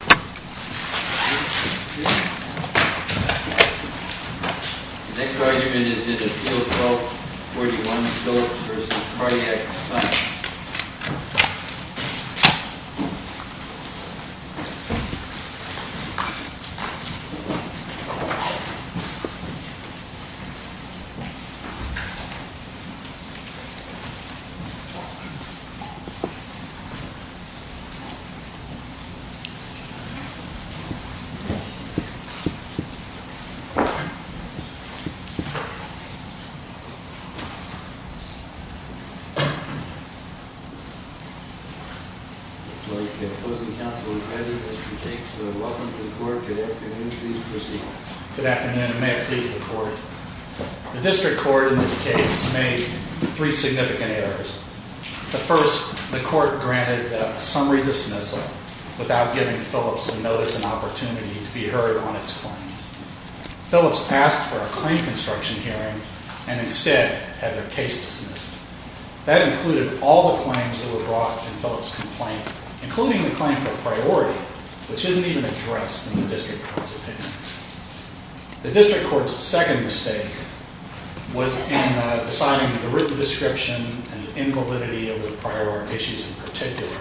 The next argument is in Appeal 1241, Phillips v. Cardiac Science. The opposing counsel is ready, Mr. Tate, so welcome to the court. Good afternoon, please proceed. Good afternoon, and may it please the court. The district court in this case made three significant errors. The first, the court granted a summary dismissal without giving Phillips a notice and opportunity to be heard on its claims. Phillips asked for a claim construction hearing and instead had their case dismissed. That included all the claims that were brought in Phillips' complaint, including the claim for priority, which isn't even addressed in the district court's opinion. The district court's second mistake was in deciding the written description and invalidity of the priority issues in particular.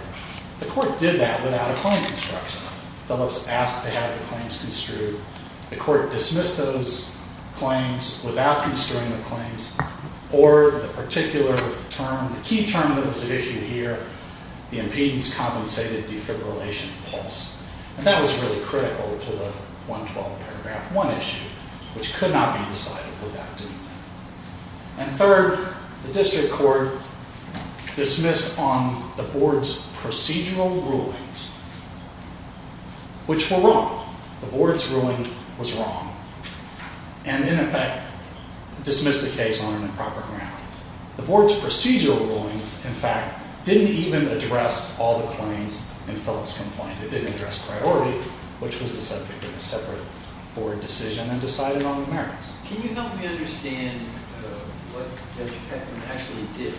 The court did that without a claim construction. Phillips asked to have the claims construed. The court dismissed those claims without construing the claims or the particular term, the key term that was issued here, the impedance compensated defibrillation pulse. And that was really critical to the 112 paragraph 1 issue, which could not be decided without doing that. And third, the district court dismissed on the board's procedural rulings, which were wrong. The board's ruling was wrong and in effect dismissed the case on improper ground. The board's procedural rulings, in fact, didn't even address all the claims in Phillips' complaint. It didn't address priority, which was the subject of a separate board decision and decided on the merits. Can you help me understand what Judge Peckman actually did?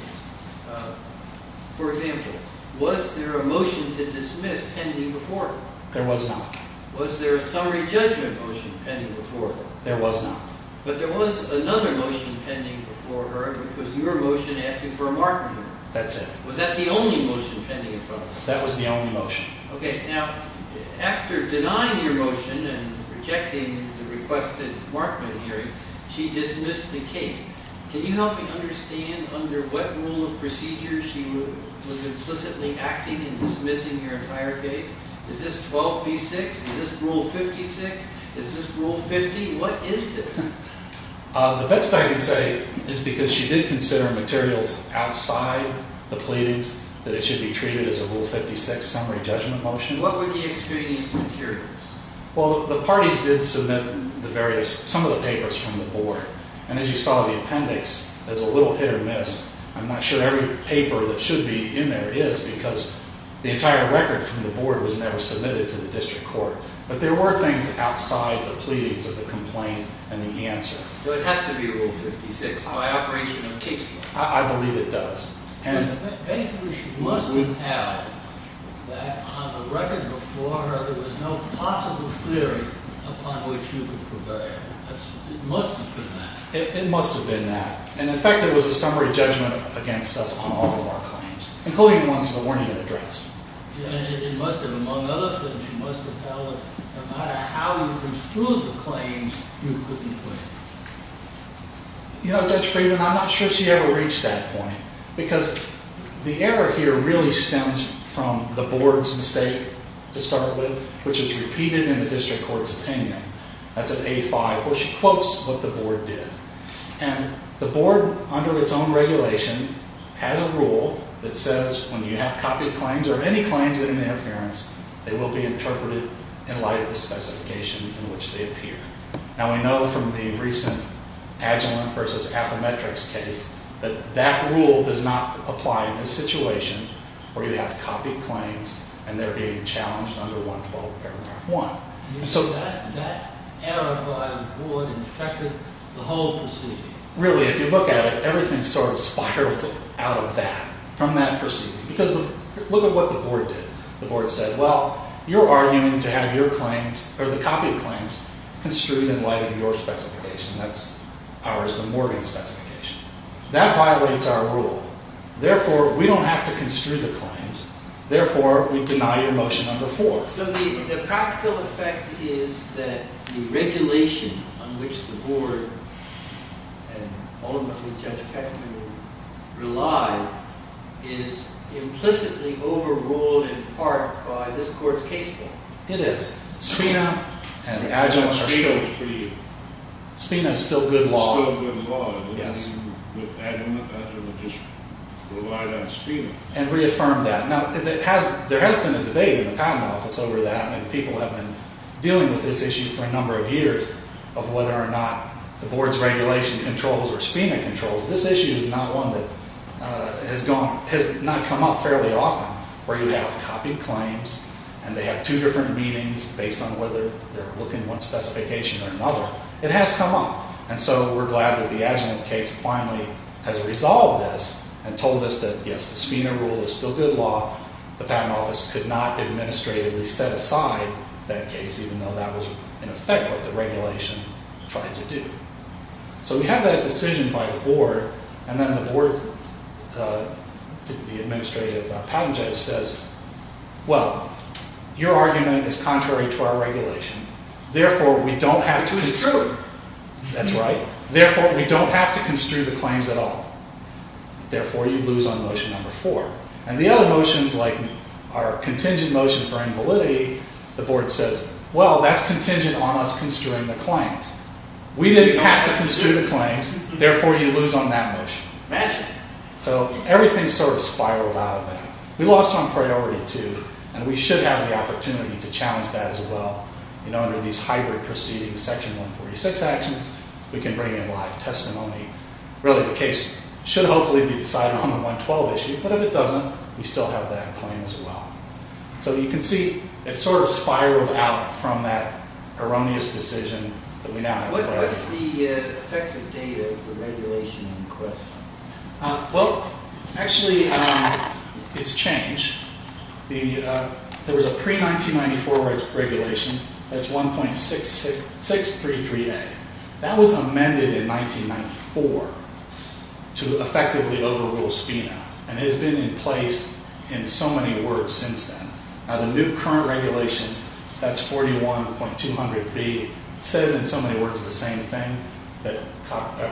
For example, was there a motion to dismiss pending before her? There was not. Was there a summary judgment motion pending before her? There was not. But there was another motion pending before her, which was your motion asking for a Markman hearing. That's it. Was that the only motion pending in front of her? That was the only motion. Okay. Now, after denying your motion and rejecting the requested Markman hearing, she dismissed the case. Can you help me understand under what rule of procedure she was implicitly acting in dismissing your entire case? Is this 12B6? Is this Rule 56? Is this Rule 50? What is this? The best I can say is because she did consider materials outside the pleadings that it should be treated as a Rule 56 summary judgment motion. What were the extraneous materials? Well, the parties did submit some of the papers from the board. And as you saw, the appendix is a little hit or miss. I'm not sure every paper that should be in there is because the entire record from the board was never submitted to the district court. But there were things outside the pleadings of the complaint and the answer. So it has to be Rule 56 by operation of case law. I believe it does. Basically, she must have held that on the record before her there was no possible theory upon which you could prevail. It must have been that. It must have been that. And, in fact, there was a summary judgment against us on all of our claims, including the ones that weren't even addressed. And it must have, among other things, she must have held that no matter how you construed the claims, you couldn't prevail. You know, Judge Friedman, I'm not sure she ever reached that point. Because the error here really stems from the board's mistake to start with, which is repeated in the district court's opinion. That's at A5, where she quotes what the board did. And the board, under its own regulation, has a rule that says when you have copied claims or any claims in an interference, they will be interpreted in light of the specification in which they appear. Now, we know from the recent Agilent v. Affymetrix case that that rule does not apply in this situation, where you have copied claims and they're being challenged under 112 paragraph 1. So that error by the board infected the whole proceeding. Really, if you look at it, everything sort of spirals out of that, from that proceeding. Because look at what the board did. The board said, well, you're arguing to have your claims, or the copied claims, construed in light of your specification. That's ours, the Morgan specification. That violates our rule. Therefore, we don't have to construe the claims. Therefore, we deny your motion under 4. So the practical effect is that the regulation on which the board, and ultimately Judge Peckman, relied, is implicitly overruled in part by this court's case law. It is. Spina and Agilent are still— Spina is pretty— Spina is still good law. It's still good law. Yes. With Agilent, Agilent just relied on Spina. And reaffirmed that. Now, there has been a debate in the Patent Office over that, and people have been dealing with this issue for a number of years, of whether or not the board's regulation controls or Spina controls. This issue is not one that has not come up fairly often, where you have copied claims, and they have two different meanings based on whether they're looking at one specification or another. It has come up. And so we're glad that the Agilent case finally has resolved this, and told us that, yes, the Spina rule is still good law. The Patent Office could not administratively set aside that case, even though that was, in effect, what the regulation tried to do. So we have that decision by the board, and then the board's—the administrative patent judge says, well, your argument is contrary to our regulation. Therefore, we don't have to— It's true. That's right. Therefore, we don't have to construe the claims at all. Therefore, you lose on motion number four. And the other motions, like our contingent motion for invalidity, the board says, well, that's contingent on us construing the claims. We didn't have to construe the claims. Therefore, you lose on that motion. Imagine. So everything sort of spiraled out of there. We lost on priority two, and we should have the opportunity to challenge that as well. You know, under these hybrid proceedings, Section 146 actions, we can bring in live testimony. Really, the case should hopefully be decided on the 112 issue. But if it doesn't, we still have that claim as well. So you can see it sort of spiraled out from that erroneous decision that we now have. What's the effective date of the regulation in question? Well, actually, it's changed. There was a pre-1994 regulation. That's 1.633A. That was amended in 1994 to effectively overrule SPINA, and it has been in place in so many words since then. Now, the new current regulation, that's 41.200B, says in so many words the same thing, that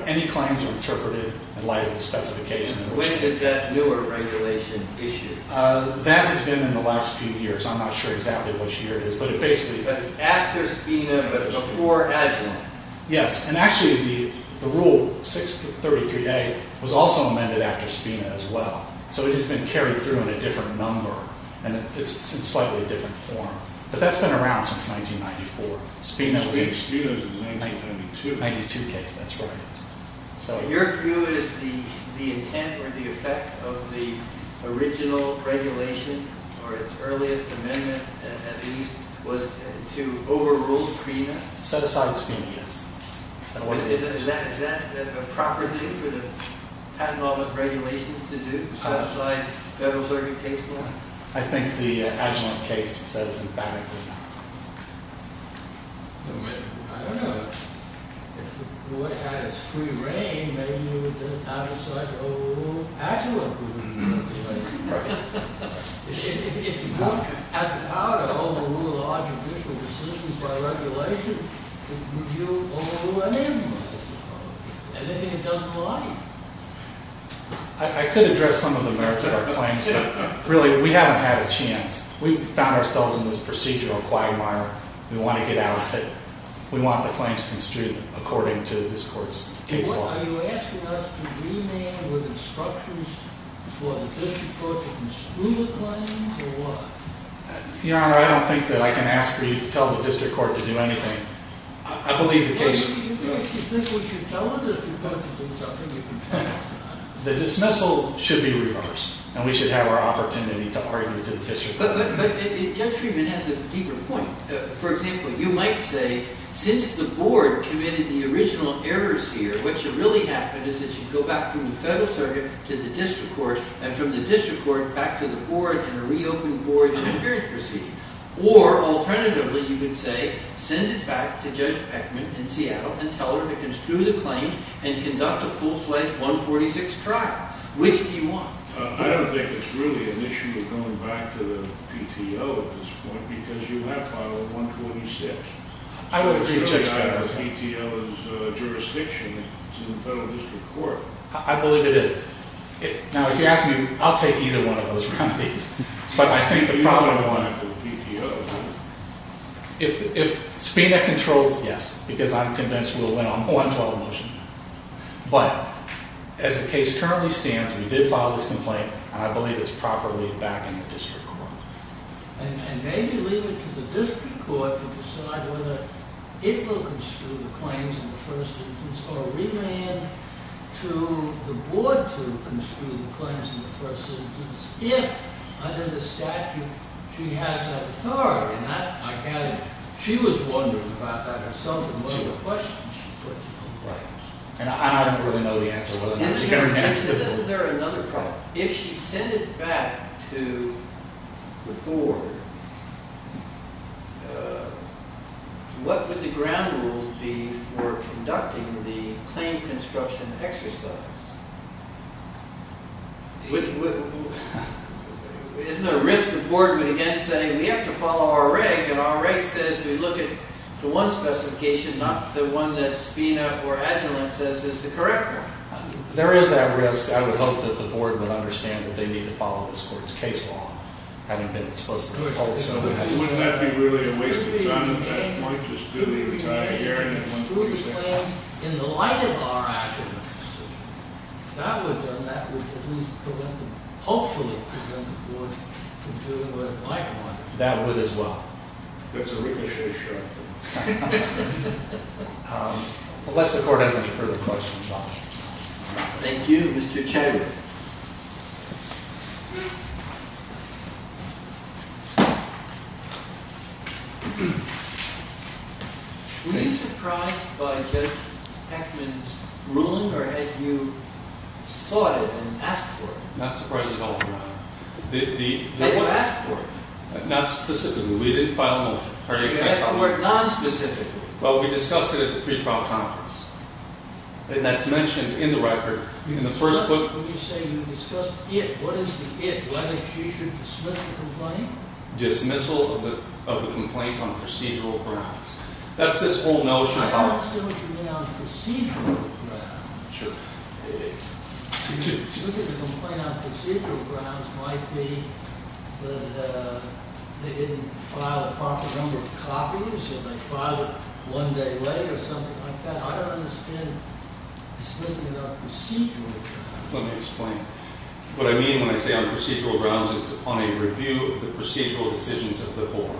any claims are interpreted in light of the specification. When did that newer regulation issue? That has been in the last few years. I'm not sure exactly which year it is. After SPINA, but before Agilent. Yes, and actually the rule 6.33A was also amended after SPINA as well. So it has been carried through in a different number, and it's in slightly different form. But that's been around since 1994. SPINA was in the 1992 case, that's right. Your view is the intent or the effect of the original regulation, or its earliest amendment at least, was to overrule SPINA? Set aside SPINA, yes. Is that a proper thing for the patent office regulations to do, set aside Federal Circuit case law? I think the Agilent case says emphatically that. I don't know. If the board had its free reign, maybe it would have decided to overrule Agilent. If the board has the power to overrule all judicial decisions by regulation, would you overrule any of them? Anything it doesn't like. I could address some of the merits of our claims, but really we haven't had a chance. We've found ourselves in this procedural quagmire. We want to get out of it. We want the claims construed according to this court's case law. Are you asking us to remand with instructions for the district court to construe the claims, or what? Your Honor, I don't think that I can ask for you to tell the district court to do anything. I believe the case... Do you think we should tell it, or is it something you can tell us not to do? The dismissal should be reversed, and we should have our opportunity to argue to the district court. Judge Friedman has a deeper point. For example, you might say, since the board committed the original errors here, what should really happen is it should go back from the federal circuit to the district court, and from the district court back to the board in a reopened board interference proceeding. Or, alternatively, you could say, send it back to Judge Peckman in Seattle and tell her to construe the claim and conduct a full-fledged 146 trial. Which do you want? I don't think it's really an issue of going back to the PTO at this point, because you have filed a 146. I would agree with Judge Peckman. It's really out of the PTO's jurisdiction. It's in the federal district court. I believe it is. Now, if you ask me, I'll take either one of those remedies. But I think the problem... You don't want it with the PTO, do you? If Spina controls, yes, because I'm convinced we'll win on one trial motion. But as the case currently stands, we did file this complaint, and I believe it's properly back in the district court. And maybe leave it to the district court to decide whether it will construe the claims in the first instance or remand to the board to construe the claims in the first instance if, under the statute, she has that authority. And that, I gather, she was wondering about that herself and what other questions she put to the board. And I don't really know the answer to that. Isn't there another problem? If she sent it back to the board, what would the ground rules be for conducting the claim construction exercise? Isn't there a risk the board would again say, we have to follow our reg, and our reg says we look at the one specification, not the one that Spina or Agilent says is the correct one? There is that risk. I would hope that the board would understand that they need to follow this court's case law, having been supposedly told so in Agilent. Wouldn't that be really a waste of time at that point, just do the entire hearing and... ...construe the claims in the light of our Agilent. If that were done, that would at least prevent them, hopefully prevent the board from doing what it might want to do. That would as well. There's a ricochet show up there. Unless the court has any further questions, I'll stop. Thank you. Mr. Chadwick. Were you surprised by Judge Heckman's ruling, or had you sought it and asked for it? Not surprised at all, Your Honor. They would ask for it. Not specifically. We didn't file a motion. You have to work non-specifically. Well, we discussed it at the pre-trial conference. And that's mentioned in the record, in the first book. When you say you discussed it, what is the it? Whether she should dismiss the complaint? Dismissal of the complaint on procedural grounds. That's this whole notion. I understand what you mean on procedural grounds. Sure. To dismiss a complaint on procedural grounds might be that they didn't file a proper number of copies, and they filed it one day later, or something like that. I don't understand dismissing it on procedural grounds. Let me explain. What I mean when I say on procedural grounds is on a review of the procedural decisions of the board.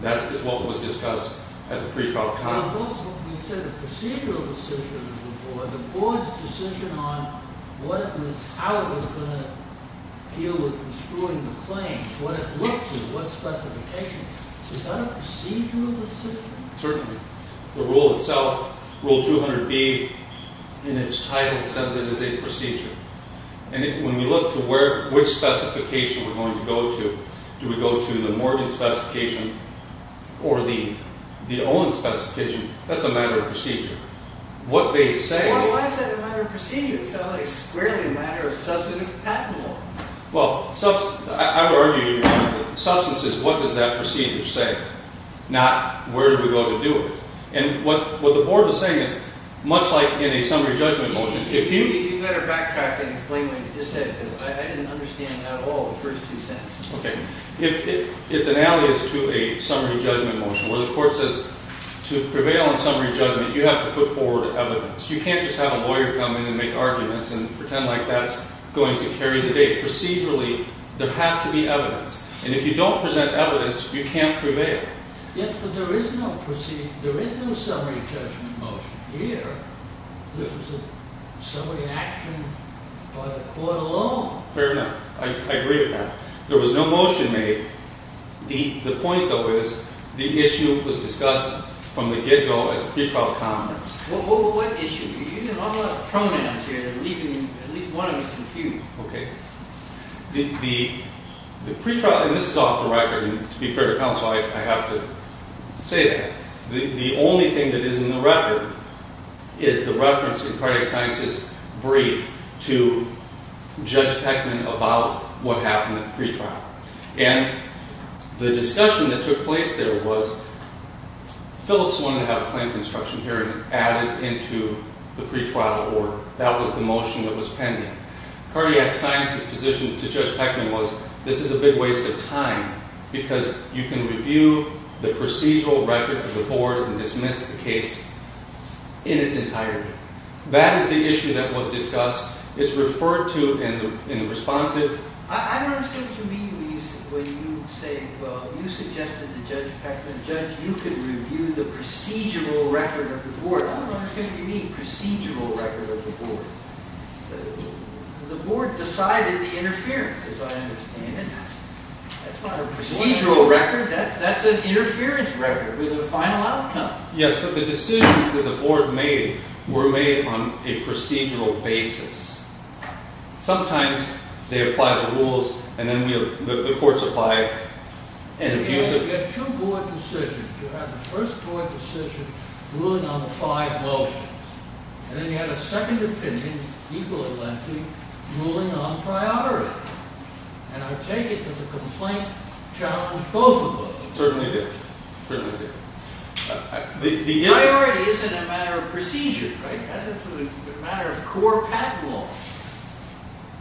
That is what was discussed at the pre-trial conference. You said the procedural decisions of the board. The board's decision on how it was going to deal with construing the claim, what it looked to, what specifications. Is that a procedural decision? Certainly. The rule itself, Rule 200B, in its title, says it is a procedure. And when we look to which specification we're going to go to, do we go to the Morgan specification or the Olin specification? That's a matter of procedure. Well, why is that a matter of procedure? It's a squarely matter of substantive patent law. Well, I would argue that substance is what does that procedure say, not where do we go to do it. And what the board was saying is, much like in a summary judgment motion, if you... You better backtrack and explain what you just said, because I didn't understand at all the first two sentences. Okay. It's an alias to a summary judgment motion, where the court says to prevail in summary judgment, you have to put forward evidence. You can't just have a lawyer come in and make arguments and pretend like that's going to carry the day. Procedurally, there has to be evidence. And if you don't present evidence, you can't prevail. Yes, but there is no summary judgment motion here. This is a summary action by the court alone. Fair enough. I agree with that. There was no motion made. The point, though, is the issue was discussed from the get-go at the pre-trial conference. What issue? You have a lot of pronouns here, and at least one of them is confused. Okay. The pre-trial... And this is off the record, and to be fair to counsel, I have to say that. The only thing that is in the record is the reference in Chronic Sciences' brief to Judge Peckman about what happened at the pre-trial. And the discussion that took place there was Phillips wanted to have a planned construction hearing added into the pre-trial order. That was the motion that was pending. Cardiac Sciences' position to Judge Peckman was, this is a big waste of time because you can review the procedural record of the board and dismiss the case in its entirety. That is the issue that was discussed. It's referred to in the responsive... I don't understand what you mean when you say, well, you suggested to Judge Peckman, Judge, you can review the procedural record of the board. I don't understand what you mean, procedural record of the board. The board decided the interference, as I understand it. That's not a procedural record. That's an interference record with a final outcome. Yes, but the decisions that the board made were made on a procedural basis. Sometimes they apply the rules, and then the courts apply... You had two board decisions. You had the first board decision ruling on the five motions. And then you had a second opinion, equally lengthy, ruling on priority. And I take it that the complaint challenged both of those. It certainly did. Priority isn't a matter of procedure, right? That's a matter of core patent law.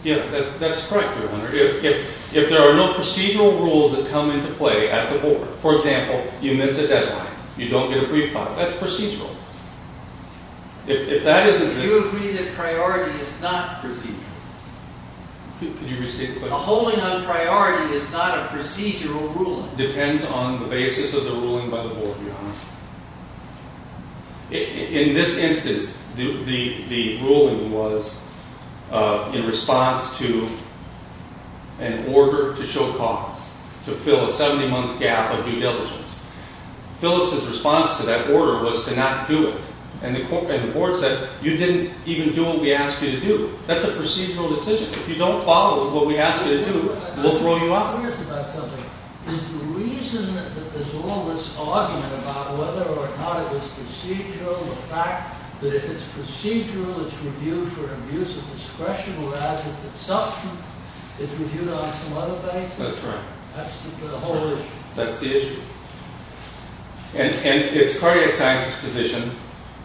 Yeah, that's correct, Your Honor. If there are no procedural rules that come into play at the board, for example, you miss a deadline, you don't get a brief file, that's procedural. Do you agree that priority is not procedural? Could you restate the question? A holding on priority is not a procedural ruling. It depends on the basis of the ruling by the board, Your Honor. In this instance, the ruling was in response to an order to show cause, to fill a 70-month gap of due diligence. Phillips' response to that order was to not do it. And the board said, you didn't even do what we asked you to do. That's a procedural decision. If you don't follow what we ask you to do, we'll throw you out. I'm curious about something. Is the reason that there's all this argument about whether or not it was procedural, the fact that if it's procedural, it's reviewed for abuse of discretion, whereas if it's substance, it's reviewed on some other basis? That's right. That's the whole issue. That's the issue. And it's cardiac science's position,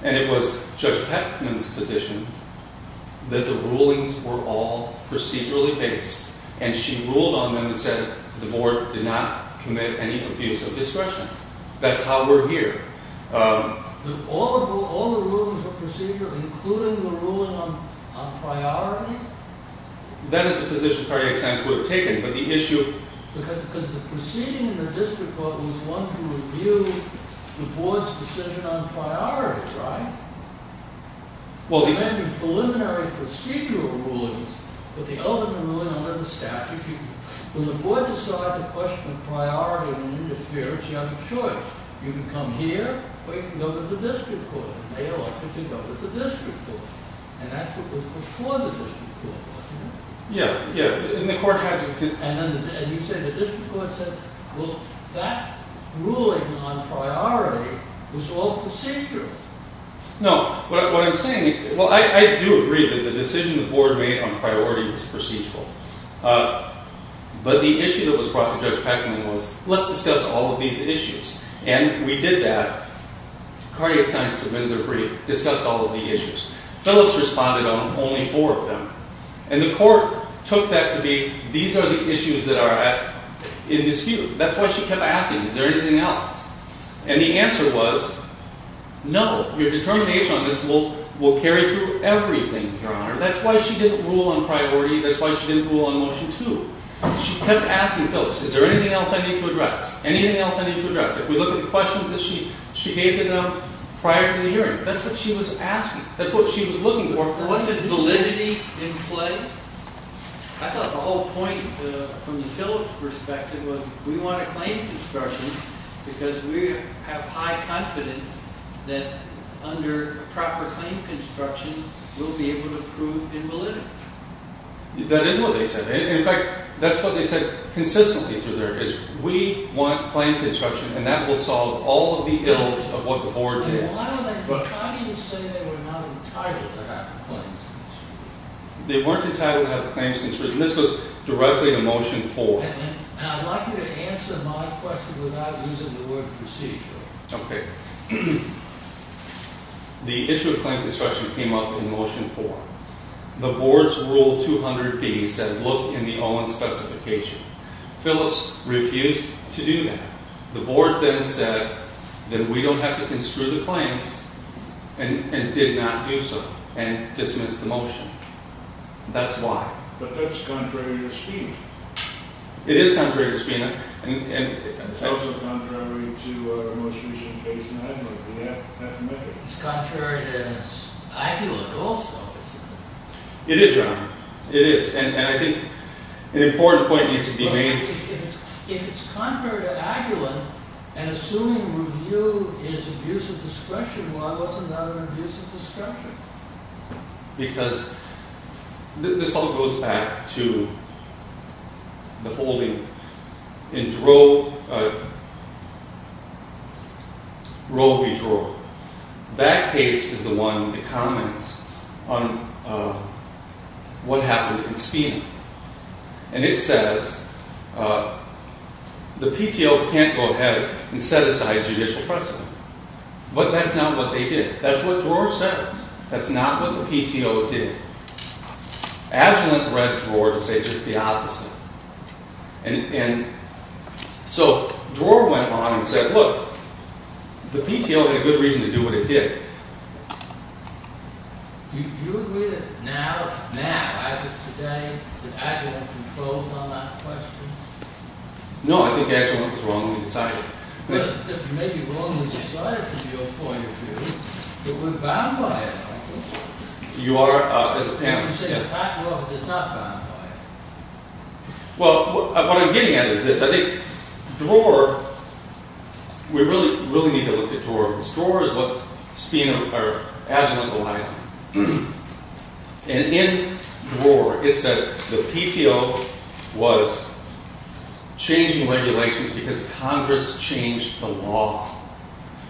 and it was Judge Peckman's position, that the rulings were all procedurally based. And she ruled on them and said the board did not commit any abuse of discretion. That's how we're here. All the rulings were procedural, including the ruling on priority? That is the position cardiac science would have taken. But the issue... It was one to review the board's decision on priorities, right? There may be preliminary procedural rulings, but they open the ruling under the statute. When the board decides a question of priority, when you interfere, it's your choice. You can come here, or you can go with the district court. And they elected to go with the district court. And that's what was before the district court, wasn't it? Yeah. And you say the district court said, well, that ruling on priority was all procedural. No. What I'm saying... Well, I do agree that the decision the board made on priority was procedural. But the issue that was brought to Judge Peckman was, let's discuss all of these issues. And we did that. Cardiac science submitted their brief, discussed all of the issues. Phillips responded on only four of them. And the court took that to be, these are the issues that are in dispute. That's why she kept asking, is there anything else? And the answer was, no. Your determination on this will carry through everything, Your Honor. That's why she didn't rule on priority. That's why she didn't rule on Motion 2. She kept asking Phillips, is there anything else I need to address? If we look at the questions that she gave to them prior to the hearing, that's what she was asking. That's what she was looking for. Wasn't validity in play? I thought the whole point from the Phillips perspective was, we want a claim construction because we have high confidence that under proper claim construction, we'll be able to prove invalidity. That is what they said. In fact, that's what they said consistently through their case. We want claim construction and that will solve all of the ills of what the Board did. But how do you say they were not entitled to have claims construed? They weren't entitled to have claims construed. And this was directly to Motion 4. And I'd like you to answer my question without using the word procedural. Okay. The issue of claim construction came up in Motion 4. The Board's Rule 200B said, look in the Olin Specification. Phillips refused to do that. The Board then said, then we don't have to construe the claims and did not do so and dismissed the motion. That's why. But that's contrary to SPINA. It is contrary to SPINA. It's also contrary to our most recent case in Highland. It's contrary to Agulent also. It is, John. And I think an important point needs to be made. If it's contrary to Agulent, and assuming review is abuse of discretion, why wasn't that an abuse of discretion? Because this all goes back to the holding in Roe v. Dror. That case is the one that comments on what happened in SPINA. And it says, the PTO can't go ahead and set aside judicial precedent. But that's not what they did. That's what Dror says. That's not what the PTO did. Agulent read Dror to say just the opposite. So Dror went on and said, look, the PTO had a good reason to do what it did. Do you agree that now, as of today, that Agulent controls on that question? No. I think Agulent was wrong when they decided. But they may be wrong when they decided from your point of view, but we're bound by it. You are, as a panel? Well, what I'm getting at is this. I think Dror, we really need to look at Dror. Because Dror is what Agulent relied on. And in Dror, changing regulations because Congress changed the law.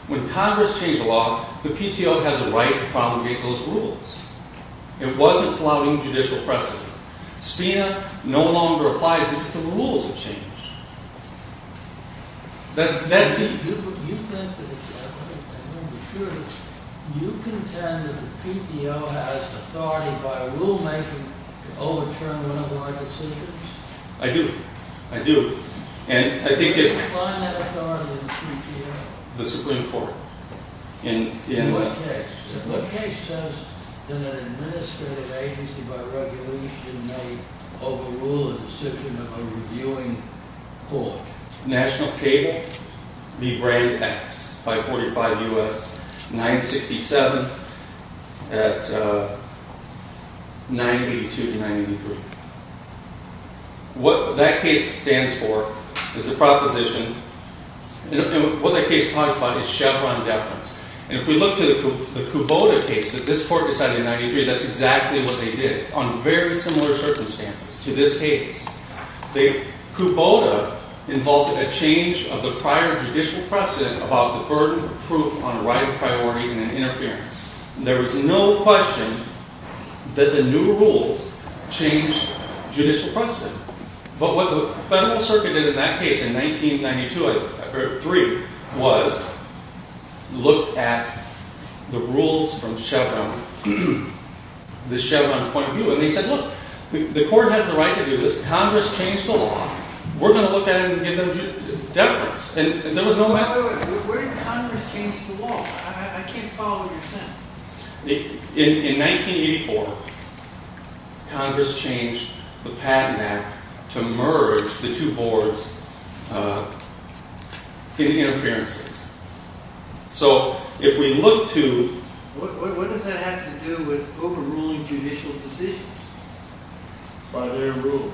When Congress changed the law, the PTO had the right to promulgate those rules. It wasn't flouting judicial precedent. SPINA no longer applies because the rules have changed. That's the... You contend that the PTO has authority by rulemaking to overturn one of our decisions? I do. I do. You define that authority in the PTO? The Supreme Court. In what case? What case says that an administrative agency by regulation may overrule a decision of a reviewing court? National Cable v. Brand X 545 U.S. 967 at 982-983. What that case stands for is a proposition. And what that case talks about is Chevron deference. And if we look to the Kubota case that this court decided in 93, that's exactly what they did. On very similar circumstances to this case. Kubota involved a change of the prior judicial precedent about the burden of proof on a right of priority and an interference. There was no question that the new rules changed judicial precedent. But what the Federal Circuit did in that case in 1992-93 was look at the rules from Chevron the Chevron point of view. And they said, look, the court has the right to do this. Congress changed the law. We're going to look at it and give them deference. And there was no matter... Where did Congress change the law? I can't follow your sentence. In 1984 Congress changed the Patent Act to merge the two boards in interferences. So if we look to... What does that have to do with overruling judicial decisions? By their rules.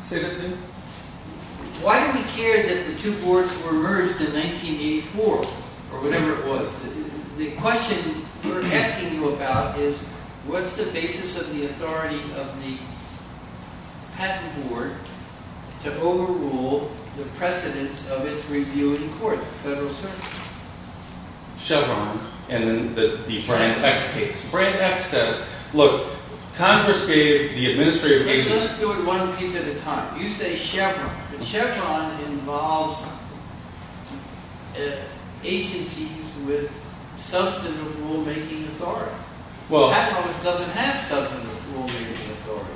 Say that again? Why do we care that the two boards were merged in 1984? Or whatever it was. The question we're asking you about is what's the basis of the authority of the patent board to overrule the precedence of its review in court? The Federal Circuit. Chevron and the Brand X case. Look, Congress gave the administrative basis... Let's do it one piece at a time. You say Chevron. But Chevron involves agencies with substantive rulemaking authority. Congress doesn't have substantive rulemaking authority.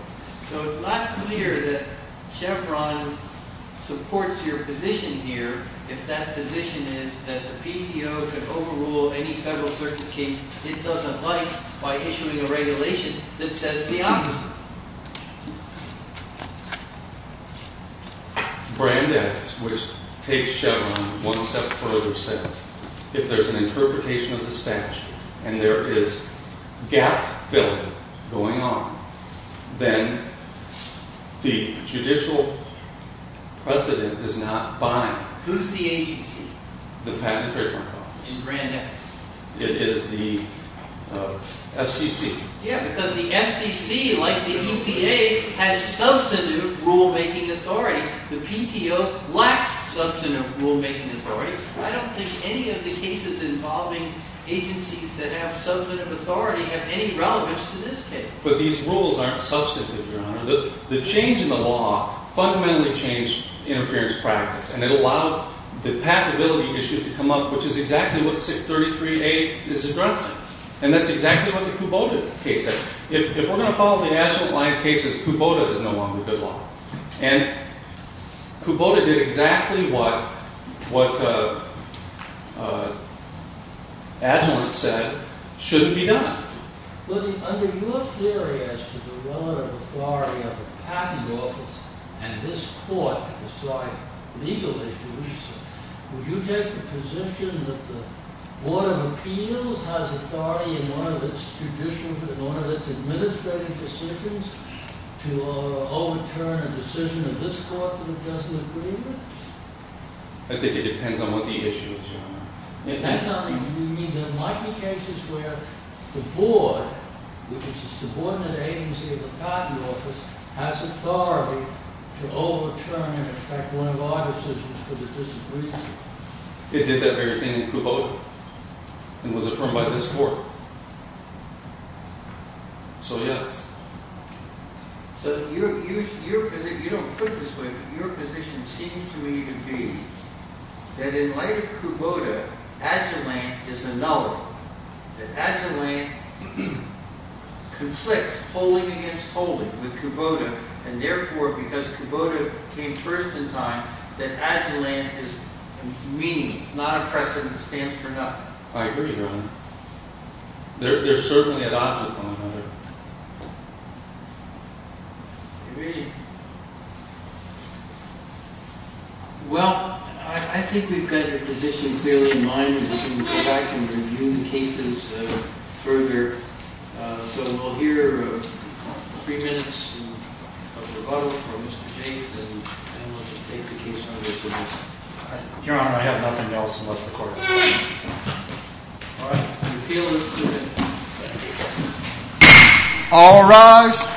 So it's not clear that Chevron supports your position here if that position is that the PTO can overrule any Federal Circuit case it doesn't like by issuing a regulation that says the opposite. Brand X, which takes Chevron one step further, says if there's an interpretation of the statute and there is gap-filling going on then the judicial precedent is not binding. Who's the agency? The Patent and Trademark Office. It is the FCC. Yeah, because the FCC, like the EPA, has substantive rulemaking authority. The PTO lacks substantive rulemaking authority. I don't think any of the cases involving agencies that have substantive authority have any relevance to this case. But these rules aren't substantive, Your Honor. The change in the law fundamentally changed interference practice and it allowed the patentability issues to come up, which is exactly what 633A is addressing. And that's exactly what the Kubota case said. If we're going to follow the Agilent line of cases, Kubota is no longer good law. Kubota did exactly what Agilent said shouldn't be done. Under your theory as to the relative authority of the Patent Office and this Court to decide legal issues, would you take the position that the Board of Appeals has authority in one of its administrative decisions to overturn a decision of this Court that it doesn't agree with? I think it depends on what the issue is, Your Honor. There might be cases where the Board, which is a subordinate agency of the Patent Office, has authority to overturn, in effect, one of our decisions because it disagrees with it. It did that very thing in Kubota and was affirmed by this Court. So, yes. You don't put it this way, but your position seems to me to be that in light of Kubota, Agilent is a null. That Agilent conflicts polling against polling with Kubota and therefore, because Kubota came first in time, that Agilent is meaningless, not a precedent that stands for nothing. I agree, Your Honor. There are certainly odds with one another. Agreed. Well, I think we've got your position clearly in mind and we can go back and review the cases further. So, we'll hear three minutes of rebuttal from Mr. James and then we'll just take the case under review. Your Honor, I have nothing else unless the Court accepts it. All right. The appeal is submitted. All rise.